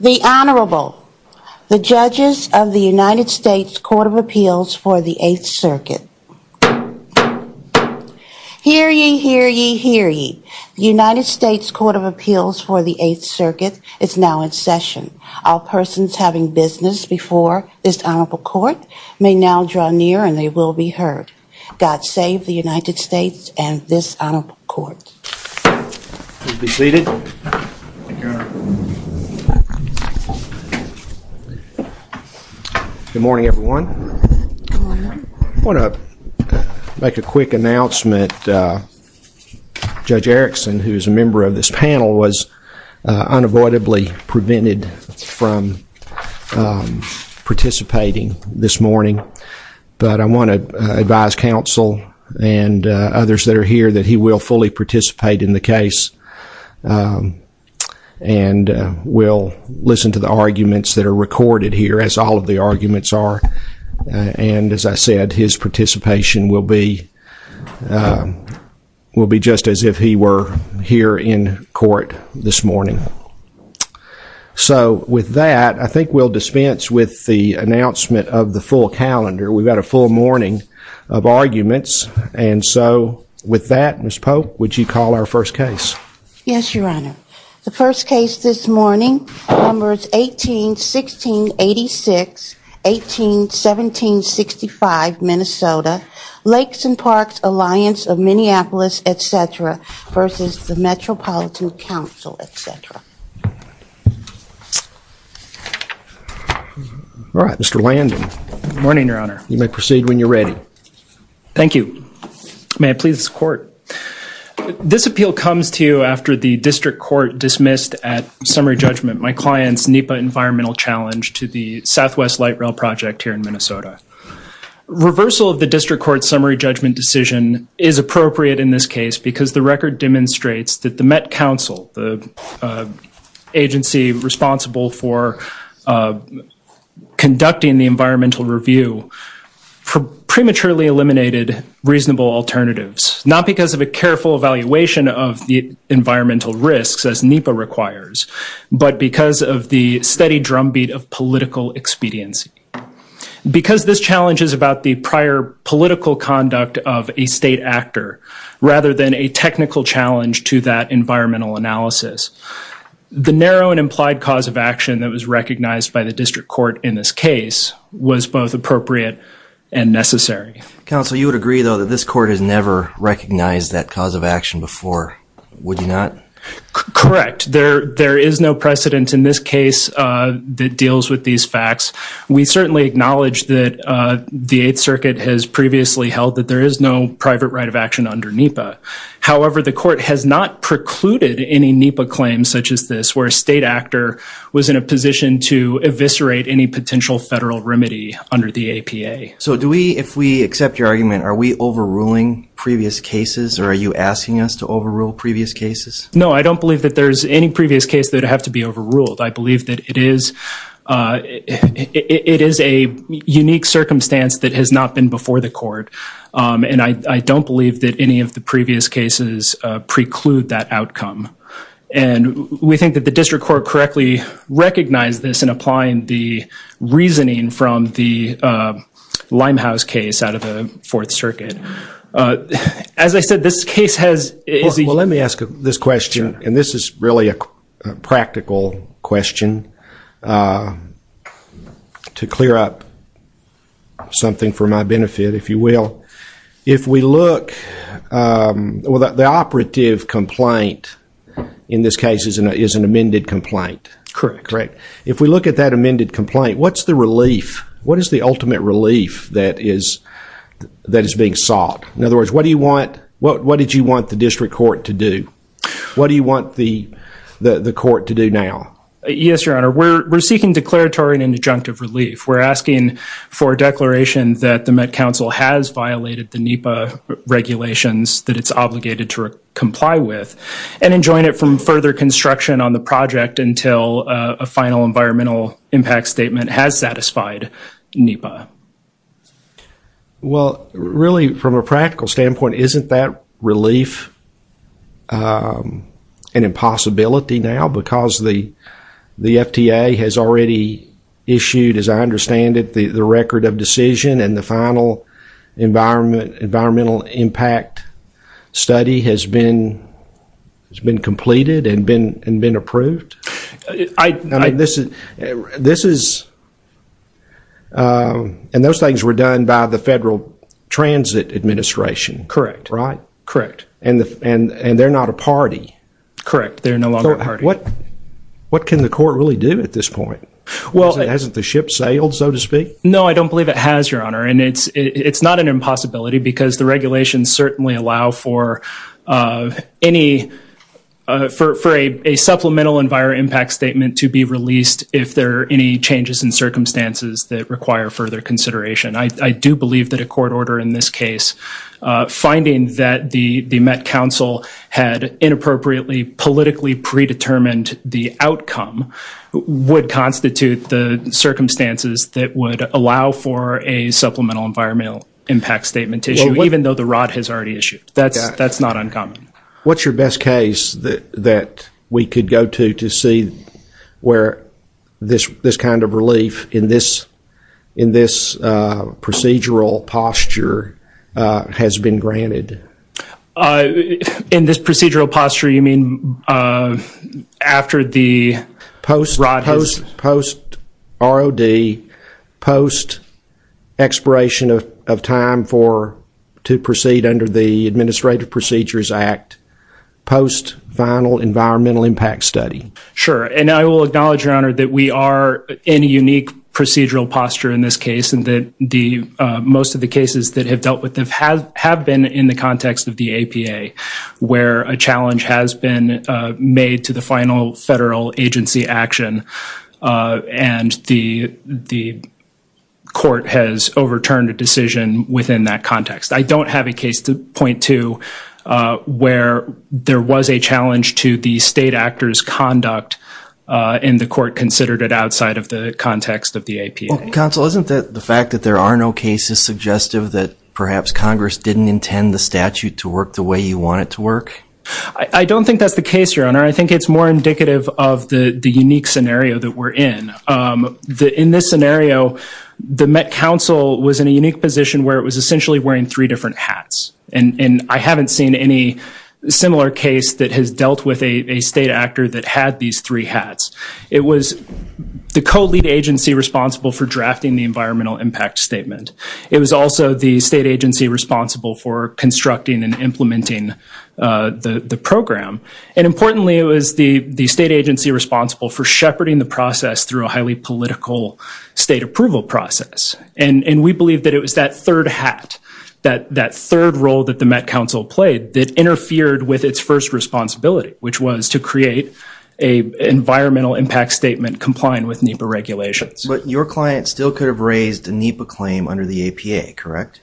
The Honorable, the Judges of the United States Court of Appeals for the Eighth Circuit. Hear ye, hear ye, hear ye. The United States Court of Appeals for the Eighth Circuit is now in session. All persons having business before this honorable court may now draw near and they will be heard. God save the United States and this honorable court. Good morning, everyone. I want to make a quick announcement. Judge Erickson, who is a member of this panel, was unavoidably prevented from participating this morning. But I want to advise counsel and others that are here that he will fully participate in the case and will listen to the arguments that are recorded here, as all of the arguments are. And as I said, his participation will be just as if he were here in court this morning. So with that, I think we'll dispense with the announcement of the full calendar. We've got a full morning of arguments. And so with that, Ms. Polk, would you call our first case? Yes, Your Honor. The first case this morning, numbers 18-16-86, 18-17-65, Minnesota, Lakes and Parks Alliance of Minneapolis, et cetera, versus the Metropolitan Council, et cetera. All right, Mr. Landon. Good morning, Your Honor. You may proceed when you're ready. Thank you. May I please court? This appeal comes to you after the district court dismissed at summary judgment my client's NEPA environmental challenge to the Southwest Light Rail Project here in Minnesota. Reversal of the district court's summary judgment decision is appropriate in this case because the record demonstrates that the Met Council, the agency responsible for conducting the environmental review, prematurely eliminated reasonable alternatives. Not because of a careful evaluation of the environmental risks as NEPA requires, but because of the steady drumbeat of political expediency. Because this challenge is about the prior political conduct of a state actor rather than a technical challenge to that that was recognized by the district court in this case was both appropriate and necessary. Counsel, you would agree though that this court has never recognized that cause of action before, would you not? Correct. There is no precedent in this case that deals with these facts. We certainly acknowledge that the Eighth Circuit has previously held that there is no private right of action under NEPA. However, the court has not precluded any NEPA claims such as this where a state actor was in a position to eviscerate any potential federal remedy under the APA. So do we, if we accept your argument, are we overruling previous cases or are you asking us to overrule previous cases? No, I don't believe that there's any previous case that would have to be overruled. I believe that it is a unique circumstance that has not been before the court and I don't believe that any of the previous cases preclude that outcome. And we think that the district court correctly recognized this in applying the reasoning from the Limehouse case out of the Fourth Circuit. As I said, this case has... Well, let me ask this question and this is really a practical question to clear up something for my benefit if you will. If we look at the operative complaint in this case is an amended complaint. Correct. If we look at that amended complaint, what's the relief? What is the ultimate relief that is being sought? In other words, what do you want, what did you want the district court to do? What do you want the court to do now? Yes, your honor. We're seeking declaratory and adjunctive relief. We're asking for a that it's obligated to comply with and enjoin it from further construction on the project until a final environmental impact statement has satisfied NEPA. Well, really, from a practical standpoint, isn't that relief an impossibility now because the FTA has already issued, as I understand it, the record of decision and the final environmental impact study has been completed and been approved? I... I mean, this is... And those things were done by the Federal Transit Administration. Correct. Right? Correct. And they're not a party. Correct. They're no longer a party. What can the court really do at this point? Hasn't the ship sailed, so to speak? No, I don't believe it has, your honor. And it's not an impossibility because the regulations certainly allow for any... for a supplemental environmental impact statement to be released if there are any changes in circumstances that require further consideration. I do believe that a court order in this case finding that the Met Council had inappropriately politically predetermined the outcome would constitute the circumstances that would allow for a supplemental environmental impact statement to issue, even though the ROD has already issued. That's not uncommon. What's your best case that we could go to to see where this kind of relief in this procedural posture has been granted? In this procedural posture, you mean after the ROD has... Post ROD, post expiration of time for... to proceed under the Administrative Procedures Act, post final environmental impact study. Sure. And I will acknowledge, your honor, that we are in a unique procedural posture in this case, and that most of the cases that have dealt with them have been in the context of the APA, where a challenge has been made to the final federal agency action, and the court has overturned a decision within that context. I don't have a case to point to where there was a challenge to the state actor's conduct, and the court considered it outside of the context of the APA. Counsel, isn't the fact that there are no cases suggestive that perhaps Congress didn't intend the statute to work the way you want it to work? I don't think that's the case, your honor. I think it's more indicative of the unique scenario that we're in. In this scenario, the Met Council was in a unique position where it was essentially wearing three different hats, and I haven't seen any similar case that has dealt with a state actor that had these three hats. It was the co-lead agency responsible for drafting the environmental impact statement. It was also the state agency responsible for constructing and implementing the program. Importantly, it was the state agency responsible for shepherding the process through a highly political state approval process. We believe that it was that third hat, that third role that the Met Council played that interfered with its first responsibility, which was to create an environmental impact statement compliant with NEPA regulations. Your client still could have raised a NEPA claim under the APA, correct?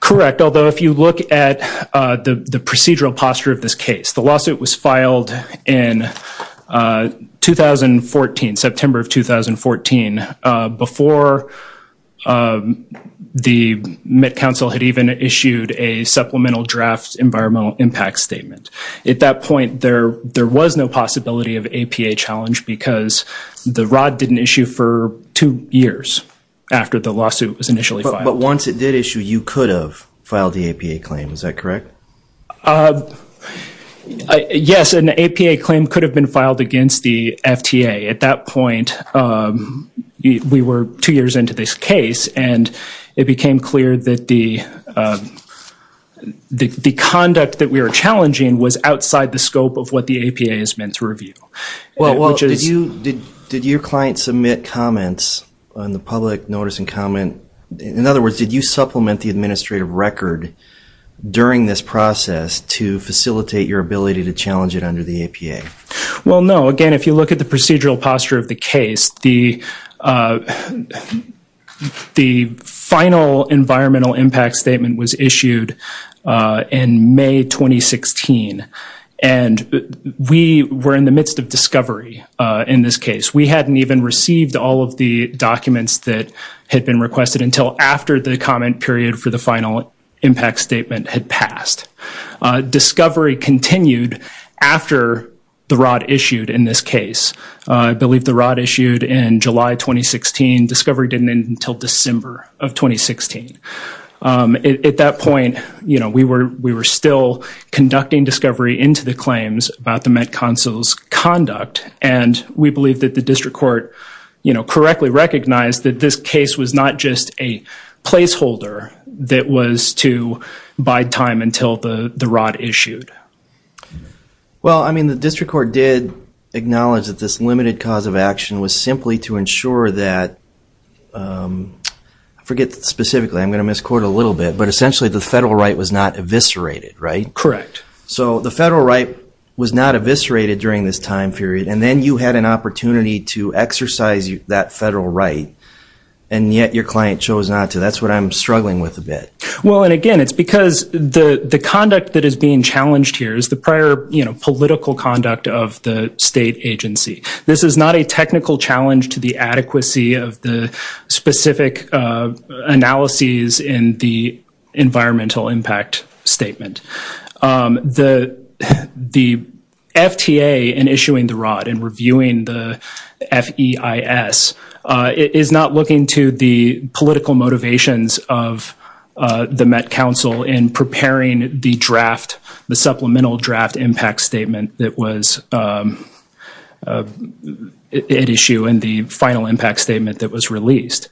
Correct, although if you look at the procedural posture of this case, the lawsuit was filed in 2014, September of 2014, before the Met Council had even issued a supplemental draft environmental impact statement. At that point, there was no possibility of APA challenge because the ROD didn't issue for two years after the lawsuit was initially filed. But once it did issue, you could have filed the APA claim, is that correct? Yes, an APA claim could have been filed against the FTA. At that point, we were two years into this case and it became clear that the conduct that we were challenging was outside the scope of what the APA is meant to review. Did your client submit comments on the public notice and comment? In other words, did you supplement the administrative record during this process to facilitate your ability to challenge it under the APA? Well, no. Again, if you look at the the final environmental impact statement was issued in May 2016, and we were in the midst of discovery in this case. We hadn't even received all of the documents that had been requested until after the comment period for the final impact statement had passed. Discovery continued after the ROD issued in this case. I believe the ROD issued in July 2016. Discovery didn't end until December of 2016. At that point, we were still conducting discovery into the claims about the Met Council's conduct and we believe that the district court correctly recognized that this case was not just a placeholder that was to bide time until the ROD issued. Well, I mean, the district court did acknowledge that this limited cause of action was simply to ensure that, I forget specifically, I'm going to misquote a little bit, but essentially the federal right was not eviscerated, right? Correct. So the federal right was not eviscerated during this time period and then you had an opportunity to exercise that federal right and yet your client chose not to. That's what I'm struggling with a prior, you know, political conduct of the state agency. This is not a technical challenge to the adequacy of the specific analyses in the environmental impact statement. The FTA in issuing the ROD and reviewing the FEIS is not looking to the political motivations of the Met Council in preparing the draft, the supplemental draft impact statement that was at issue and the final impact statement that was released.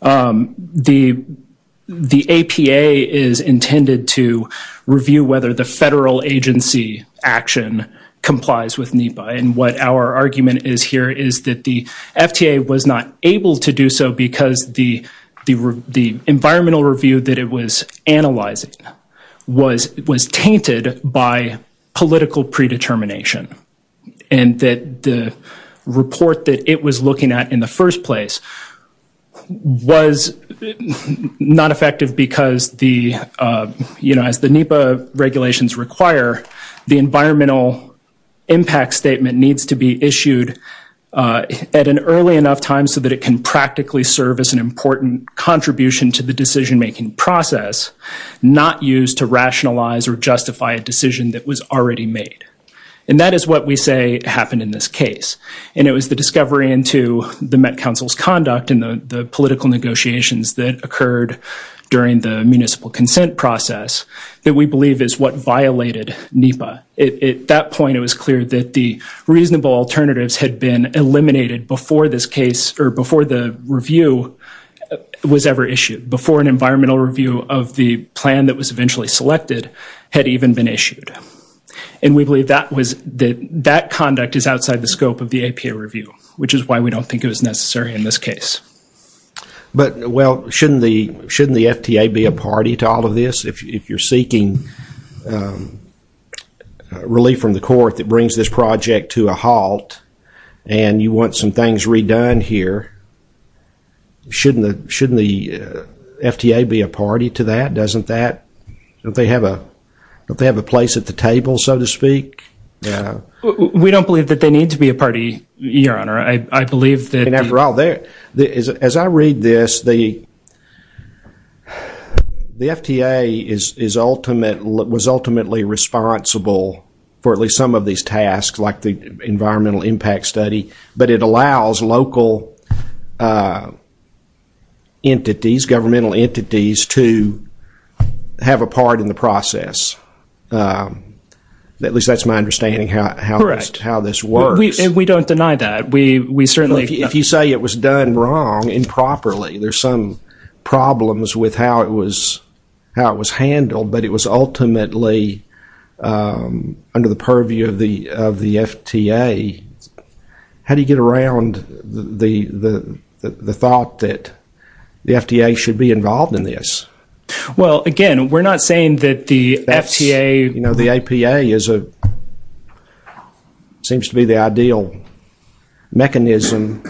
The APA is intended to review whether the federal agency action complies with NEPA and what our argument is here is that FTA was not able to do so because the environmental review that it was analyzing was tainted by political predetermination and that the report that it was looking at in the first place was not effective because the, you know, as the NEPA regulations require, the environmental impact statement needs to be issued at an early enough time so that it can practically serve as an important contribution to the decision-making process, not used to rationalize or justify a decision that was already made. And that is what we say happened in this case and it was the discovery into the Met Council's conduct and the political negotiations that occurred during the the reasonable alternatives had been eliminated before this case or before the review was ever issued, before an environmental review of the plan that was eventually selected had even been issued. And we believe that was that that conduct is outside the scope of the APA review, which is why we don't think it was necessary in this case. But well, shouldn't the FTA be a party to all of this? If you're seeking relief from the court that brings this project to a halt and you want some things redone here, shouldn't the FTA be a party to that? Doesn't that, don't they have a place at the table, so to speak? We don't believe that they need to be a party, your honor. I believe that... And after all, as I read this, the the FTA is ultimately, was ultimately responsible for at least some of these tasks like the environmental impact study, but it allows local entities, governmental entities to have a part in the process. At least that's my understanding how this works. We don't deny that. We certainly... If you say it was done wrong, improperly, there's some problems with how it was handled, but it was ultimately under the purview of the FTA. How do you get around the thought that the FTA should be involved in this? Well, again, we're not saying that the FTA... You know, the APA seems to be the ideal mechanism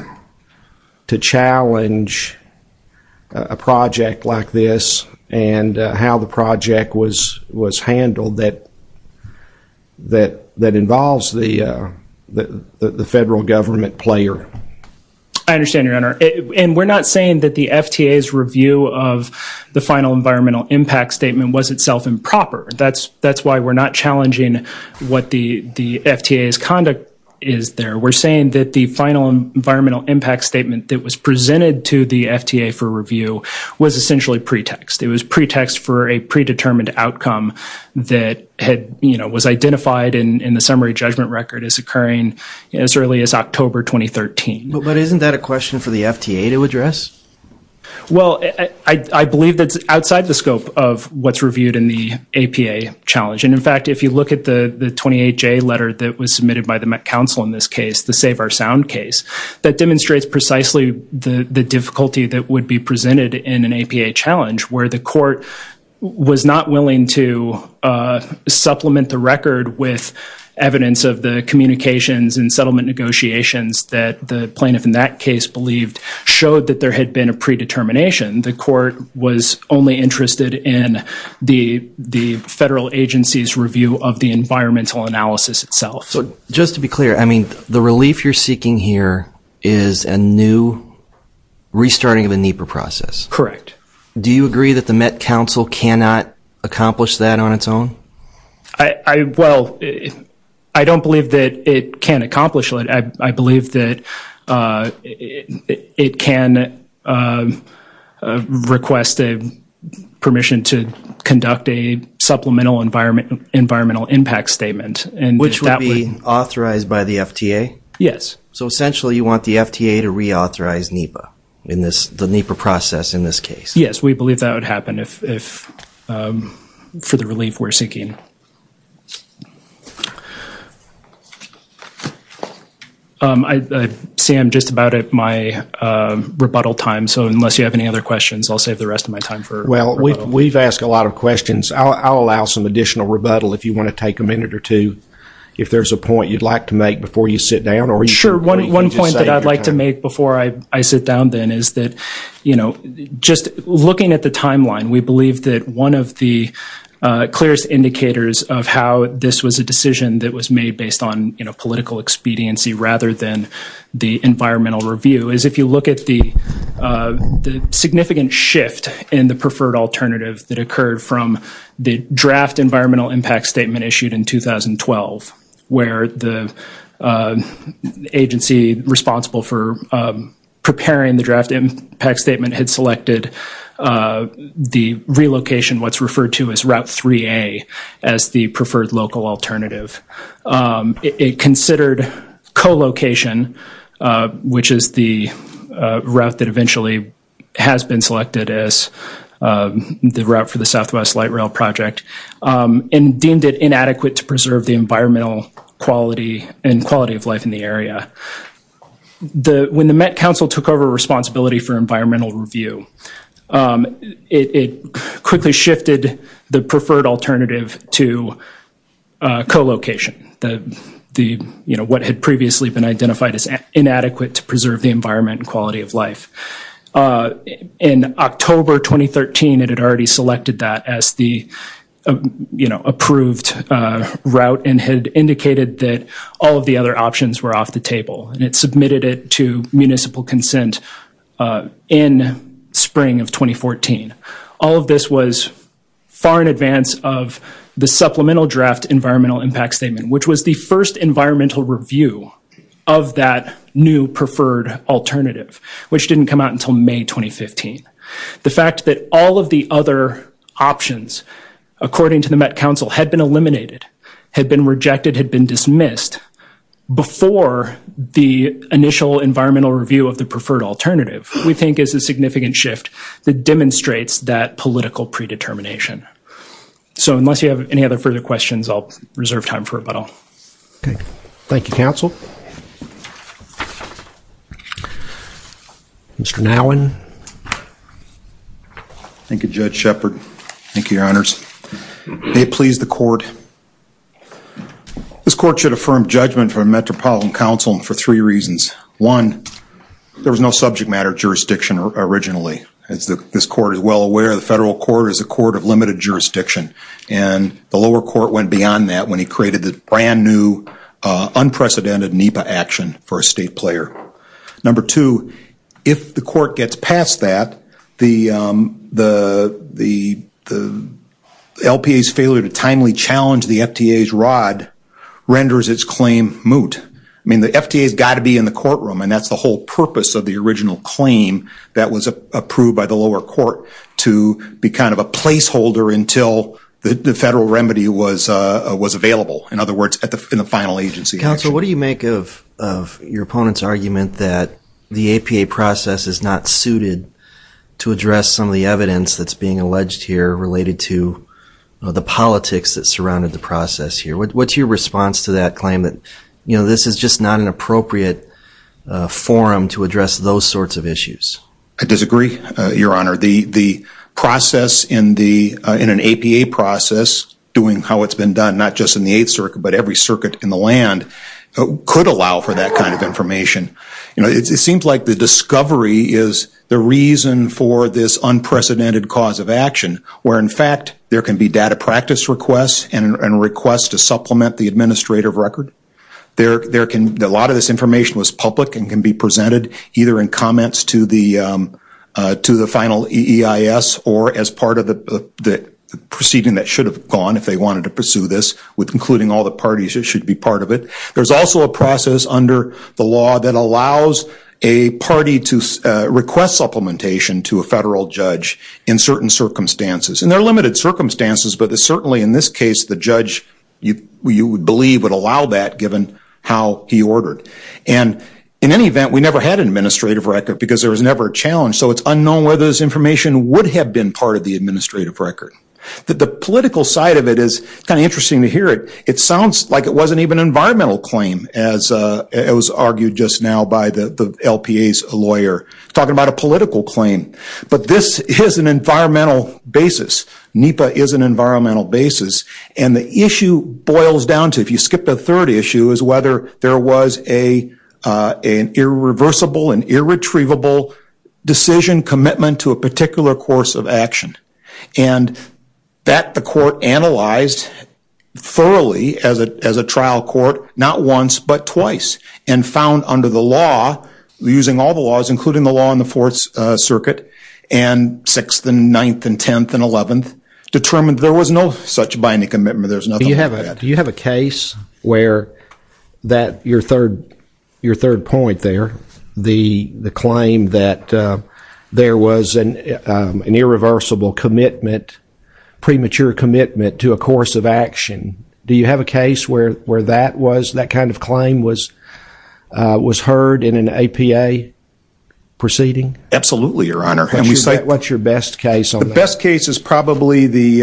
to challenge a project like this and how the project was handled that involves the federal government player. I understand, your honor. And we're not saying that the FTA's review of the final environmental impact statement was itself improper. That's why we're not challenging what the FTA's conduct is there. We're saying that the final environmental impact statement that was presented to the FTA for review was essentially pretext. It was pretext for a predetermined outcome that was identified in the summary judgment record as occurring as early as October 2013. But isn't that a question for the FTA to address? Well, I believe that's outside the scope of what's reviewed in the APA challenge. And in fact, if you look at the 28J letter that was submitted by the Met Council in this case, the Save Our Sound case, that demonstrates precisely the difficulty that would be presented in an APA challenge where the court was not willing to supplement the record with evidence of the communications and settlement negotiations that the plaintiff in that case believed showed that there had been a predetermination. The court was only interested in the federal agency's review of the environmental analysis itself. Just to be clear, the relief you're seeking here is a new restarting of the NEPA process. Correct. Do you agree that the Met Council cannot accomplish that on its own? I, well, I don't believe that it can accomplish it. I believe that it can request permission to conduct a supplemental environmental impact statement. Which would be authorized by the FTA? Yes. So essentially you want the FTA to reauthorize NEPA in this, the NEPA process in this case? Yes, we believe that would happen if, for the relief we're seeking. Sam, just about at my rebuttal time, so unless you have any other questions, I'll save the rest of my time for rebuttal. Well, we've asked a lot of questions. I'll allow some additional rebuttal if you want to take a minute or two, if there's a point you'd like to make before you sit down. Sure. One point that I'd like to make before I sit down then is that, you know, just looking at the timeline, we believe that one of the clearest indicators of how this was a decision that was made based on, you know, political expediency rather than the environmental review, is if you look at the significant shift in the preferred alternative that occurred from the draft environmental impact statement issued in 2012, where the impact statement had selected the relocation, what's referred to as Route 3A, as the preferred local alternative. It considered co-location, which is the route that eventually has been selected as the route for the Southwest Light Rail project, and deemed it inadequate to preserve the environmental quality and quality of life in the area. When the Met Council took over responsibility for environmental review, it quickly shifted the preferred alternative to co-location, the, you know, what had previously been identified as inadequate to preserve the environmental quality of life. In October 2013, it had already selected that as the, you know, approved route and had indicated that all of the other options were off the table, and it submitted it to municipal consent in spring of 2014. All of this was far in advance of the supplemental draft environmental impact statement, which was the first environmental review of that new preferred alternative, which didn't come out until May 2015. The fact that all of the other options, according to the Met Council, had been dismissed before the initial environmental review of the preferred alternative, we think is a significant shift that demonstrates that political predetermination. So unless you have any other further questions, I'll reserve time for rebuttal. Okay. Thank you, Council. Mr. Nowin. Thank you, Judge Shepard. Thank you, Your Honors. May it please the Court. This Court should affirm judgment from Metropolitan Council for three reasons. One, there was no subject matter jurisdiction originally. As this Court is well aware, the federal court is a court of limited jurisdiction, and the lower court went beyond that when he created the brand new unprecedented NEPA action for a state player. Number two, if the Court gets past that, the LPA's failure to change the FTA's rod renders its claim moot. I mean, the FTA's got to be in the courtroom, and that's the whole purpose of the original claim that was approved by the lower court, to be kind of a placeholder until the federal remedy was available. In other words, in the final agency. Council, what do you make of your opponent's argument that the APA process is not suited to address some of the evidence that's being alleged here related to the politics that process here? What's your response to that claim that, you know, this is just not an appropriate forum to address those sorts of issues? I disagree, Your Honor. The process in an APA process, doing how it's been done, not just in the Eighth Circuit, but every circuit in the land, could allow for that kind of information. You know, it seems like the discovery is the reason for this request to supplement the administrative record. There can, a lot of this information was public and can be presented either in comments to the final EEIS or as part of the proceeding that should have gone if they wanted to pursue this, with including all the parties that should be part of it. There's also a process under the law that allows a party to request supplementation to a federal judge in certain circumstances. And there are limited circumstances, but certainly in this case, the judge, you would believe, would allow that given how he ordered. And in any event, we never had an administrative record because there was never a challenge, so it's unknown whether this information would have been part of the administrative record. The political side of it is kind of interesting to hear it. It sounds like it wasn't even an environmental claim, as it was argued just now by the LPA's lawyer, talking about a political claim. But this is an environmental basis. NEPA is an environmental basis. And the issue boils down to, if you skipped a third issue, is whether there was an irreversible and irretrievable decision commitment to a particular course of action. And that the court analyzed thoroughly as a trial court, not once but twice, and found under the law, using all the laws, including the law in the Fourth Circuit and Sixth and Ninth and Tenth and Eleventh, determined there was no such binding commitment. There's nothing like that. Do you have a case where your third point there, the claim that there was an irreversible commitment, premature commitment to a course of action, do you have a case where that kind of claim was heard in an APA proceeding? Absolutely, Your Honor. And what's your best case on that? The best case is probably the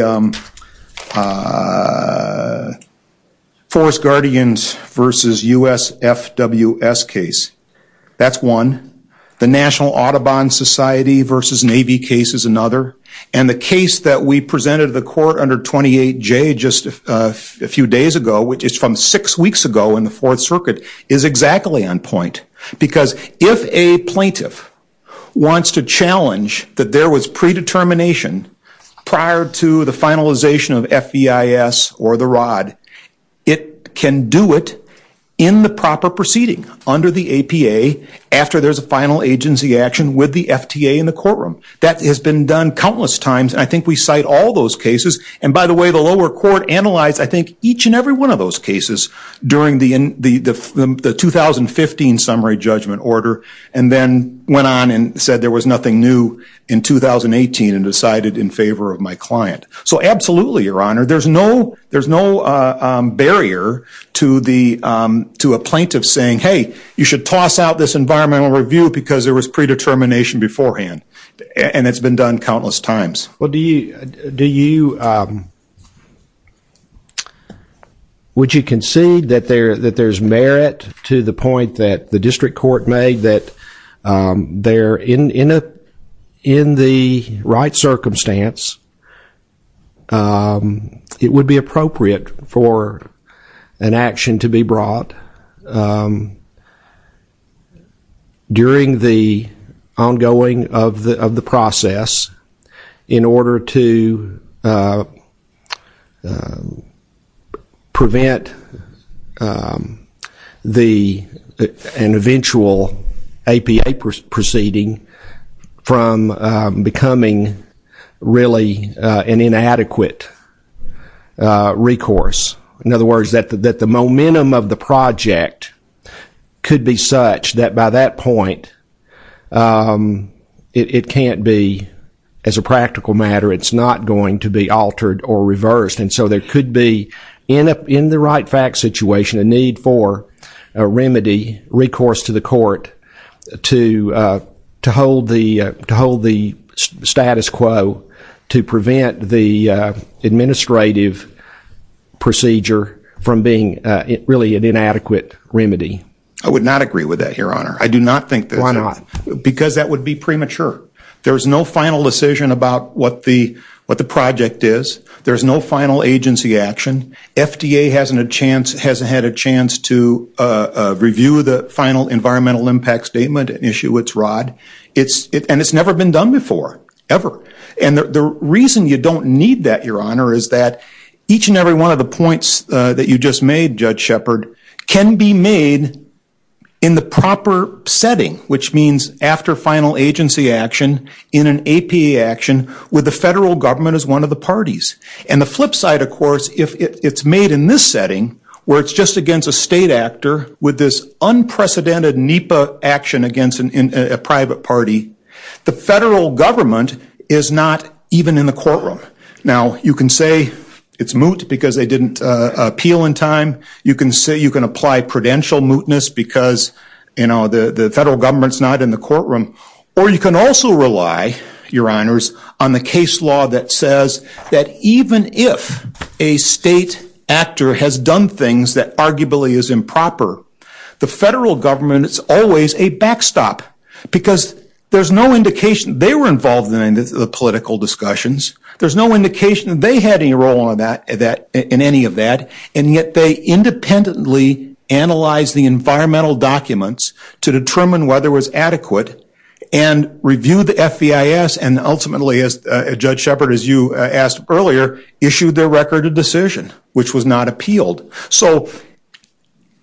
Forest Guardians versus USFWS case. That's one. The National Audubon Society versus Navy case is another. And the case that we presented to the court under 28J just a few days ago, which is from six weeks ago in the Fourth Circuit, is exactly on point. Because if a plaintiff wants to challenge that there was predetermination prior to the finalization of FEIS or the ROD, it can do it in the proper proceeding under the APA after there's a final agency action with the FTA in the courtroom. That has been done countless times. And I think we cite all those cases. And by the way, the lower court analyzed, I think, each and every one of those cases during the 2015 summary judgment order, and then went on and said there was nothing new in 2018 and decided in favor of my client. So absolutely, Your Honor, there's no barrier to a plaintiff saying, hey, you should toss out this environmental review because there was nothing new. Would you concede that there's merit to the point that the district court made that there, in the right circumstance, it would be appropriate for an action to be brought up during the ongoing of the process in order to prevent an eventual APA proceeding from becoming really an inadequate recourse? In other words, that the momentum of the project could be such that by that point, it can't be, as a practical matter, it's not going to be altered or reversed. And so there could be, in the right fact situation, a need for a remedy, recourse to the court to hold the status quo to prevent the administrative procedure from being really an inadequate remedy. I would not agree with that, Your Honor. I do not think that's... Why not? Because that would be premature. There's no final decision about what the project is. There's no final agency action. FDA hasn't had a chance to review the final environmental impact statement and issue its rod. And it's never been done before, ever. And the reason you don't need that, Your Honor, is that each and every one of the points that you just made, Judge Shepard, can be made in the proper setting, which means after final agency action in an APA action with the federal government as one of the parties. And the flip side, of course, if it's made in this against a private party, the federal government is not even in the courtroom. Now, you can say it's moot because they didn't appeal in time. You can apply prudential mootness because the federal government's not in the courtroom. Or you can also rely, Your Honors, on the case law that says that even if a state actor has done things that arguably is improper, the federal government is always a backstop because there's no indication. They were involved in the political discussions. There's no indication they had any role in any of that. And yet they independently analyzed the environmental documents to determine whether it was adequate and reviewed the FEIS and ultimately, as Judge Shepard, as you asked earlier, issued their record of decision, which was not appealed. So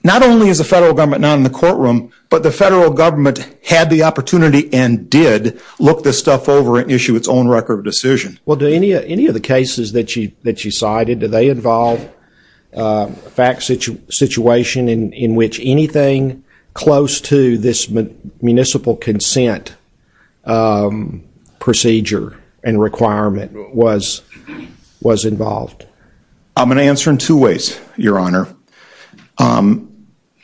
not only is the federal government not in the courtroom, but the federal government had the opportunity and did look this stuff over and issue its own record of decision. Well, do any of the cases that you cited, do they involve a fact situation in which anything close to this municipal consent procedure and requirement was involved? I'm going to answer in two ways, Your Honor.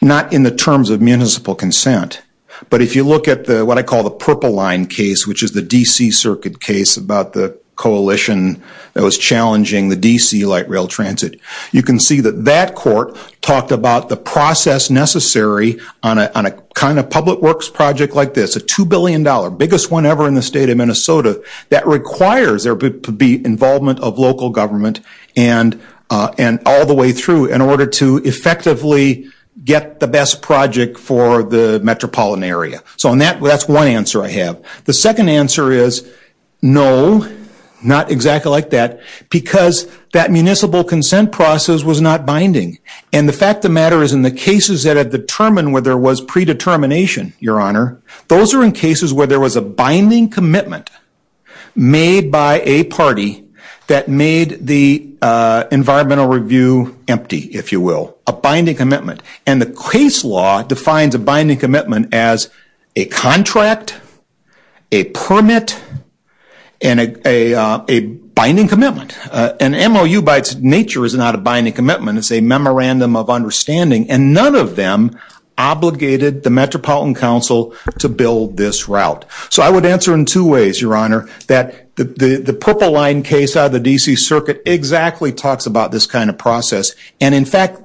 Not in the terms of municipal consent, but if you look at what I call the Purple Line case, which is the D.C. Circuit case about the coalition that was challenging the D.C. light rail transit, you can see that that court talked about the process necessary on a kind of public works project like this, a two billion dollar, biggest one ever in the state of Minnesota, that requires there to be involvement of local government and all the way through in order to effectively get the best project for the metropolitan area. So that's one answer I have. The second answer is no, not exactly like that, because that municipal consent process was not binding. And the fact of the matter is in the cases that are determined where there was predetermination, Your Honor, those are in cases where there was a binding commitment made by a party that made the environmental review empty, if you will, a binding commitment. And the case law defines a binding commitment as a contract, a permit, and a binding commitment. An MOU by its nature is not a binding commitment, it's a memorandum of understanding. And none of them obligated the Metropolitan Council to build this route. So I would answer in two ways, Your Honor, that the Purple Line case out of the D.C. Circuit exactly talks about this kind of process. And in fact,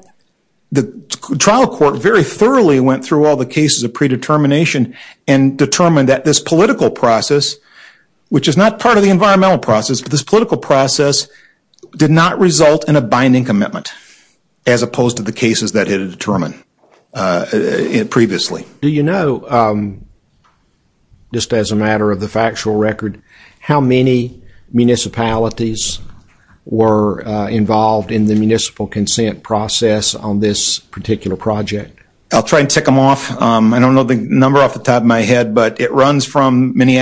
the trial court very thoroughly went through all the cases of predetermination and determined that this political process, which is not part of the environmental process, but this political process did not result in a binding commitment as opposed to the cases that it had determined previously. Do you know, just as a matter of the factual record, how many municipalities were involved in the municipal consent process on this particular project? I'll try and tick them off. I don't know the number off the top of my head, but it runs from it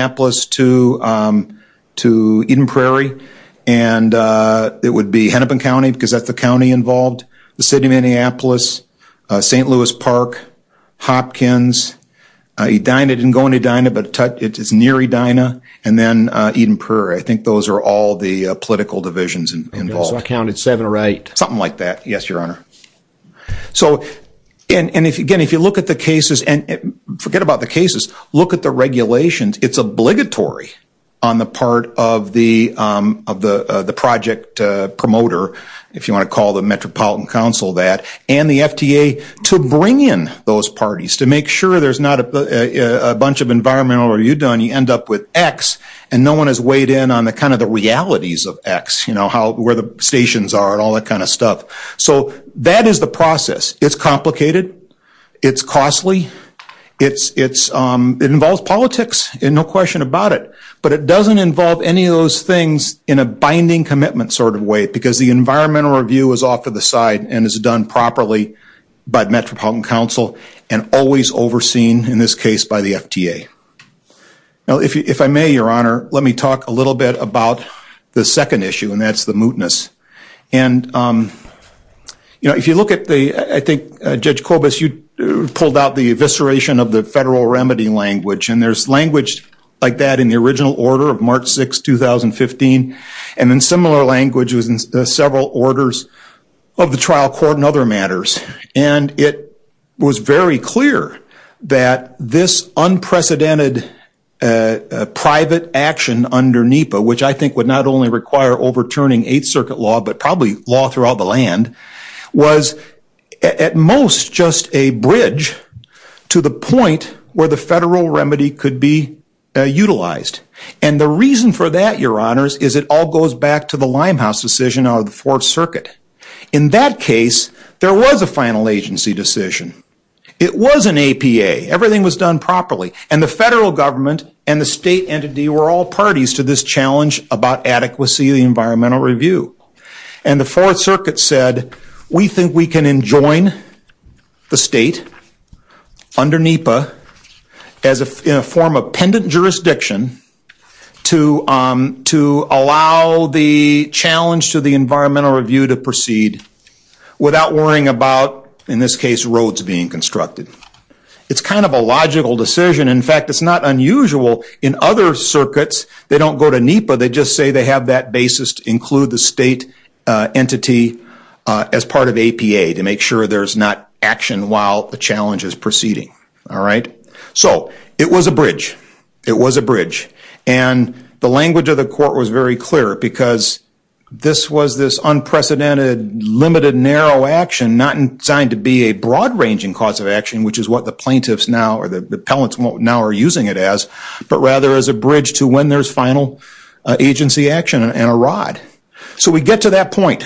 would be Hennepin County, because that's the county involved, the City of Minneapolis, St. Louis Park, Hopkins, Edina, it didn't go in Edina, but it's near Edina, and then Eden Prairie. I think those are all the political divisions involved. So I counted seven or eight. Something like that, yes, Your Honor. So, and again, if you look at the cases, and forget about the cases, look at the regulations, it's obligatory on the part of the project promoter, if you want to call the Metropolitan Council that, and the FTA to bring in those parties, to make sure there's not a bunch of environmental, or you end up with X, and no one has weighed in on the realities of X, where the stations are, and all that kind of stuff. So that is the process. It's complicated. It's costly. It involves politics, and no question about it, but it doesn't involve any of those things in a binding commitment sort of way, because the environmental review is off to the side, and is done properly by Metropolitan Council, and always overseen, in this case, by the FTA. Now, if I may, Your Honor, let me talk a little bit about the second issue, and that's the mootness. And, you know, if you look at the, I think, Judge Kobus, you pulled out the evisceration of the federal remedy language, and there's language like that in the original order of March 6, 2015, and then similar language was in several orders of the trial court and other matters. And it was very clear that this unprecedented private action under NEPA, which I think would not only require overturning Eighth Circuit law, but probably law throughout the land, was at most just a bridge to the point where the federal remedy could be utilized. And the reason for that, Your Honors, is it all goes back to the Limehouse decision out of the Fourth Circuit. In that case, there was a final agency decision. It was an APA. Everything was done properly, and the federal government and the state entity were all parties to this challenge about adequacy of the environmental review. And the Fourth Circuit said, we think we can enjoin the state under NEPA in a form of pendant jurisdiction to allow the challenge to the environmental review to proceed without worrying about, in this case, roads being constructed. It's kind of a logical decision. In fact, it's not unusual in other circuits. They don't go to NEPA. They just say they have that include the state entity as part of APA to make sure there's not action while the challenge is proceeding. So it was a bridge. It was a bridge. And the language of the court was very clear because this was this unprecedented, limited, narrow action, not designed to be a broad-ranging cause of action, which is what the plaintiffs now or the appellants now are using it as, but rather as a bridge to when there's final agency action and a rod. So we get to that point,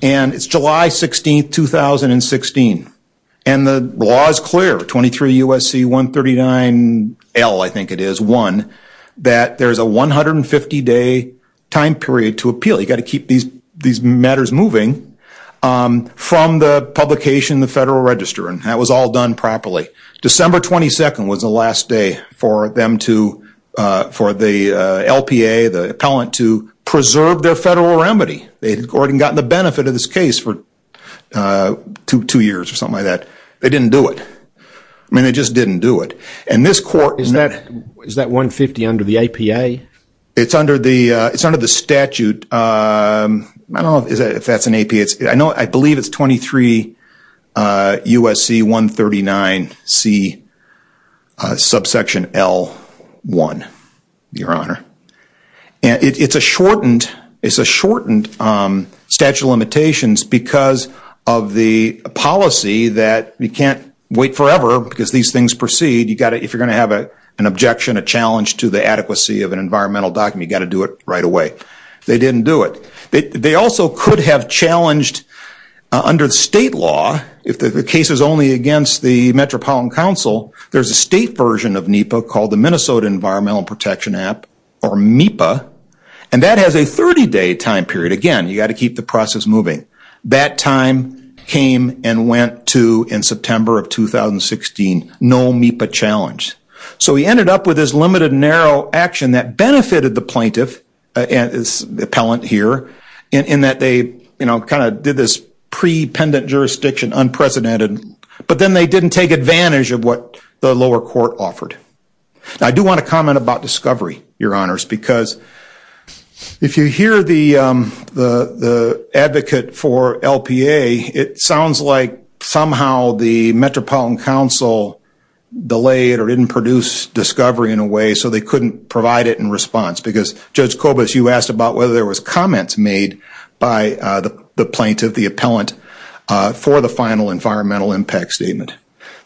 and it's July 16, 2016. And the law is clear, 23 U.S.C. 139 L, I think it is, 1, that there's a 150-day time period to appeal. You've got to keep these matters moving from the publication in the Federal Register. And that was all done properly. December 22nd was the last day for them to, for the LPA, the appellant to preserve their federal remedy. They had already gotten the benefit of this case for two years or something like that. They didn't do it. I mean, they just didn't do it. And this court- Is that 150 under the APA? It's under the statute. I don't know if that's an APA. I know, I believe it's 23 U.S.C. 139 C, subsection L1, Your Honor. It's a shortened statute of limitations because of the policy that you can't wait forever because these things proceed. You've got to, if you're going to have an objection, a challenge to the adequacy of an environmental document, you've got to do it right away. They didn't do it. They also could have challenged under the state law, if the case is only against the Metropolitan Council, there's a state version of NEPA called the Minnesota Environmental Protection App or MEPA. And that has a 30-day time period. Again, you got to keep the process moving. That time came and went to, in September of 2016, no MEPA challenge. So he ended up with this limited and narrow action that benefited the plaintiff, the appellant here, in that they kind of did this pre-pendant jurisdiction unprecedented, but then they didn't take advantage of what the lower court offered. I do want to comment about discovery, Your Honors, because if you hear the advocate for LPA, it sounds like somehow the Metropolitan Council delayed or didn't produce discovery in a way so they couldn't provide it in response. Because Judge Kobus, you asked about whether there was comments made by the plaintiff, the appellant, for the final environmental impact statement.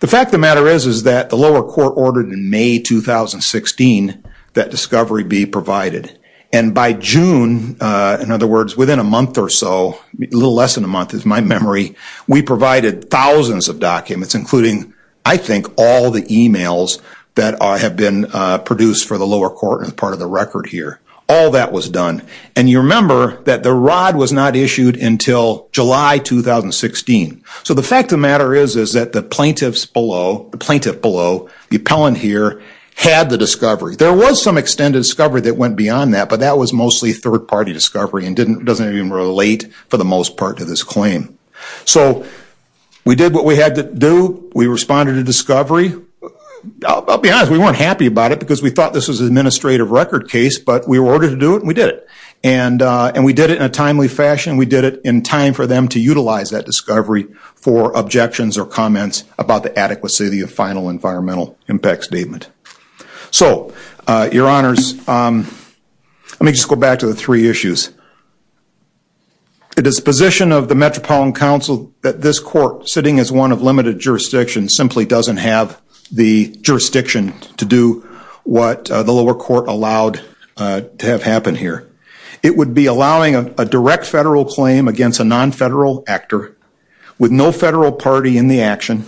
The fact of the matter is that the lower court ordered in May 2016 that discovery be provided. And by June, in other words, within a month or so, a little less than a month is my memory, we provided thousands of documents, including, I think, all the emails that have been produced for the lower court and part of the record here. All that was done. And you remember that the rod was not issued until July 2016. So the fact of the matter is that the plaintiff below, the appellant here, had the discovery. There was some extended discovery that went beyond that, but that was mostly third-party discovery and doesn't even relate for the most part to this case. So we did what we had to do. We responded to discovery. I'll be honest, we weren't happy about it because we thought this was an administrative record case, but we were ordered to do it and we did it. And we did it in a timely fashion. We did it in time for them to utilize that discovery for objections or comments about the adequacy of the final environmental impact statement. So, your honors, let me just go back to the three issues. The disposition of the Metropolitan Council that this court, sitting as one of limited jurisdiction, simply doesn't have the jurisdiction to do what the lower court allowed to have happened here. It would be allowing a direct federal claim against a non-federal actor with no federal party in the action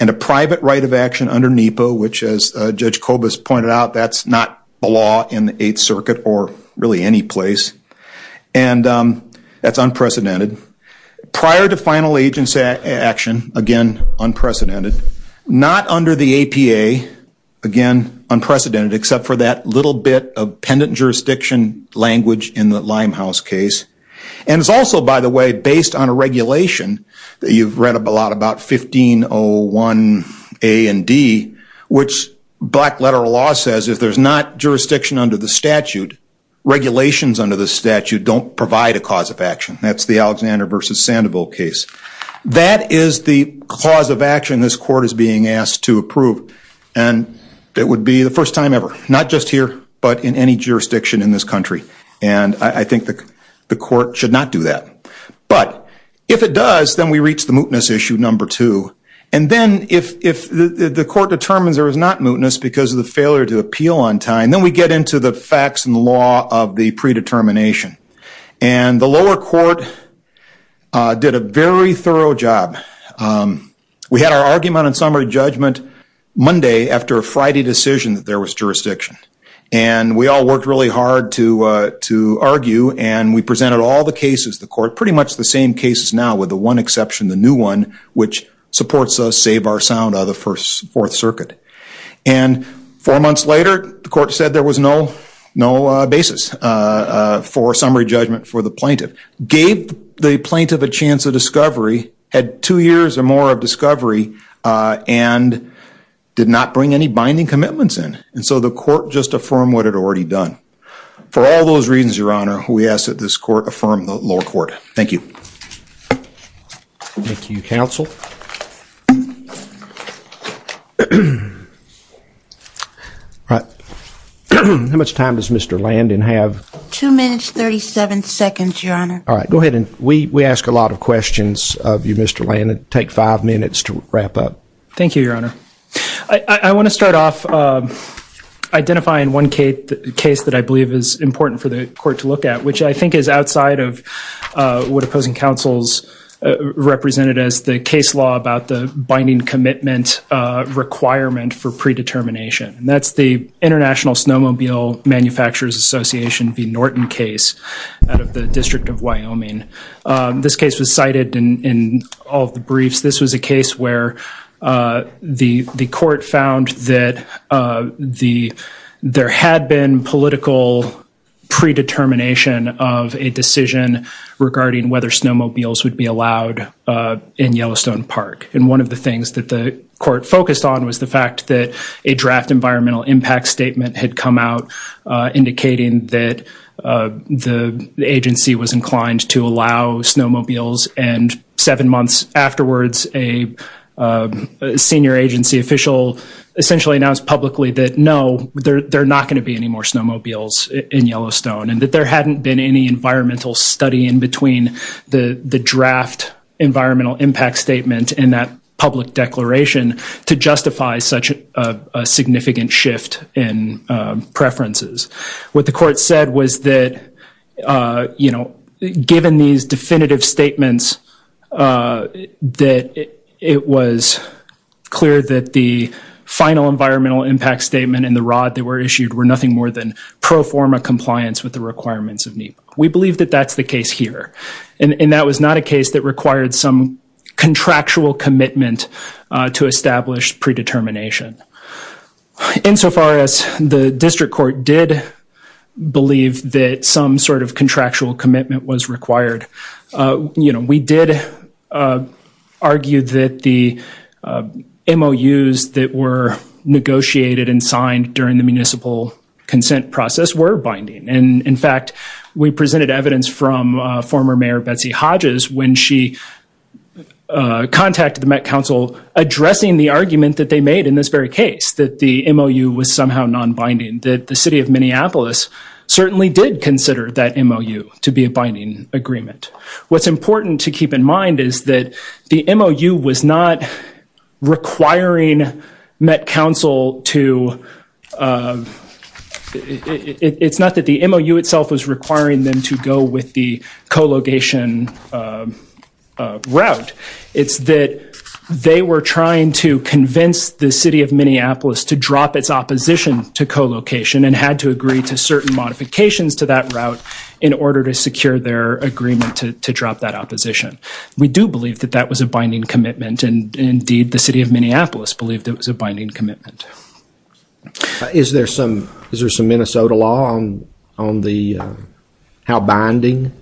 and a private right of action under NEPA, which, as Judge And that's unprecedented. Prior to final agency action, again, unprecedented. Not under the APA, again, unprecedented, except for that little bit of pendent jurisdiction language in the Limehouse case. And it's also, by the way, based on a regulation that you've read a lot about, 1501 A and D, which black letter law says if there's not jurisdiction under the statute, regulations under the statute don't provide a cause of action. That's the Alexander versus Sandoval case. That is the cause of action this court is being asked to approve. And it would be the first time ever, not just here, but in any jurisdiction in this country. And I think the court should not do that. But if it does, then we reach the mootness issue number two. And then if the court determines there is not mootness because of the failure to appeal on time, then we get into the facts and law of the predetermination. And the lower court did a very thorough job. We had our argument and summary judgment Monday after a Friday decision that there was jurisdiction. And we all worked really hard to argue. And we presented all the cases, the court, pretty much the same cases now, with the one exception, the new one, which supports us, save our sound, the Fourth Circuit. And four months later, the court said there was no basis for summary judgment for the plaintiff. Gave the plaintiff a chance of discovery, had two years or more of discovery, and did not bring any binding commitments in. And so the court just affirmed what it had already done. For all those reasons, Your Honor, we ask that this court affirm the lower court. Thank you. Thank you, counsel. All right. How much time does Mr. Landon have? Two minutes, 37 seconds, Your Honor. All right. Go ahead. And we ask a lot of questions of you, Mr. Landon. Take five minutes to wrap up. Thank you, Your Honor. I want to start off identifying one case that I believe is important for the court to look at, which I think is outside of what opposing counsels represented as the case law about the binding commitment requirement for predetermination. And that's the International Snowmobile Manufacturers Association v. Norton case out of the District of Wyoming. This case was cited in all of the briefs. This was a case where the court found that there had been political predetermination of a decision regarding whether snowmobiles would be allowed in Yellowstone Park. And one of the things that the court focused on was the fact that a draft environmental impact statement had come out indicating that the agency was inclined to allow snowmobiles. And seven months afterwards, a senior agency official essentially announced publicly that no, there are not going to be any more snowmobiles in Yellowstone and that there hadn't been any environmental study in between the draft environmental impact statement and that public declaration to justify such a significant shift in preferences. What the court said was that you know, given these definitive statements, that it was clear that the final environmental impact statement and the rod that were issued were nothing more than pro forma compliance with the requirements of NEPA. We believe that that's the case here and that was not a case that required some contractual commitment to establish predetermination. Insofar as the district court did believe that some sort of contractual commitment was required, you know, we did argue that the MOUs that were negotiated and signed during the municipal consent process were binding. And in fact, we presented evidence from former Mayor Betsy Hodges when she contacted the Met Council addressing the argument that they made in this very case that the MOU was somehow non-binding, that the City of Minneapolis certainly did consider that MOU to be a binding agreement. What's important to keep in mind is that the MOU was not requiring Met Council to, it's not that the MOU itself was requiring them to go with the co-location route, it's that they were trying to convince the City of Minneapolis to drop its opposition to co-location and had to agree to certain modifications to that route in order to secure their agreement to drop that opposition. We do believe that that was a binding commitment and indeed the City of Minneapolis believed it was a binding commitment. Is there some Minnesota law on how binding?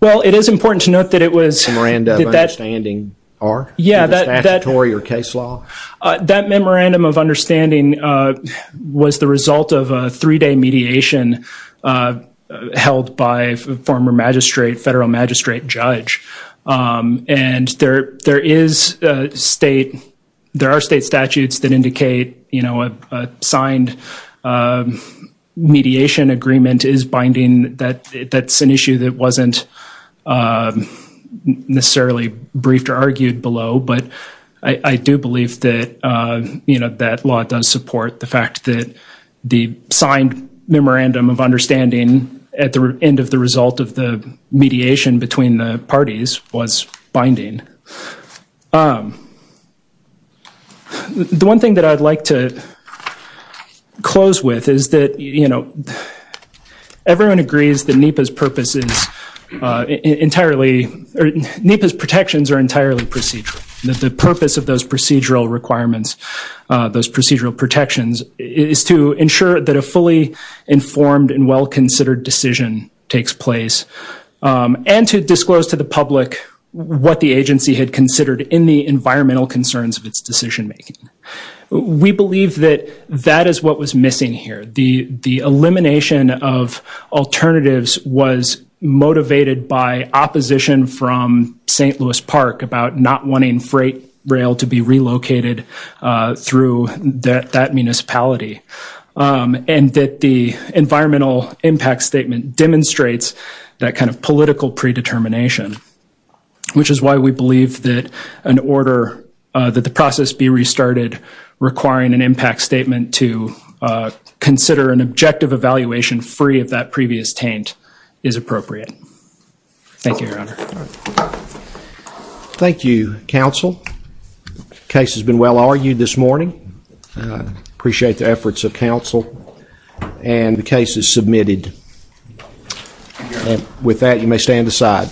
Well, it is important to note that it was... Memorandum of understanding or statutory or case law? That memorandum of understanding was the result of a three-day mediation held by a former magistrate, federal magistrate judge. And there is state, there are state issues that wasn't necessarily briefed or argued below, but I do believe that, you know, that law does support the fact that the signed memorandum of understanding at the end of the result of the mediation between the parties was binding. The one thing that I'd like to point out is that the purpose of the NEPA's protections are entirely procedural. The purpose of those procedural requirements, those procedural protections, is to ensure that a fully informed and well-considered decision takes place and to disclose to the public what the agency had considered in the environmental concerns of its decision-making. We believe that that is what was motivated by opposition from St. Louis Park about not wanting freight rail to be relocated through that municipality. And that the environmental impact statement demonstrates that kind of political predetermination. Which is why we believe that an order, that the process be restarted requiring an impact statement to consider an objective evaluation free of that previous taint is appropriate. Thank you, Your Honor. Thank you, counsel. The case has been well argued this morning. I appreciate the efforts of counsel and the case is submitted. And with that, you may stand aside.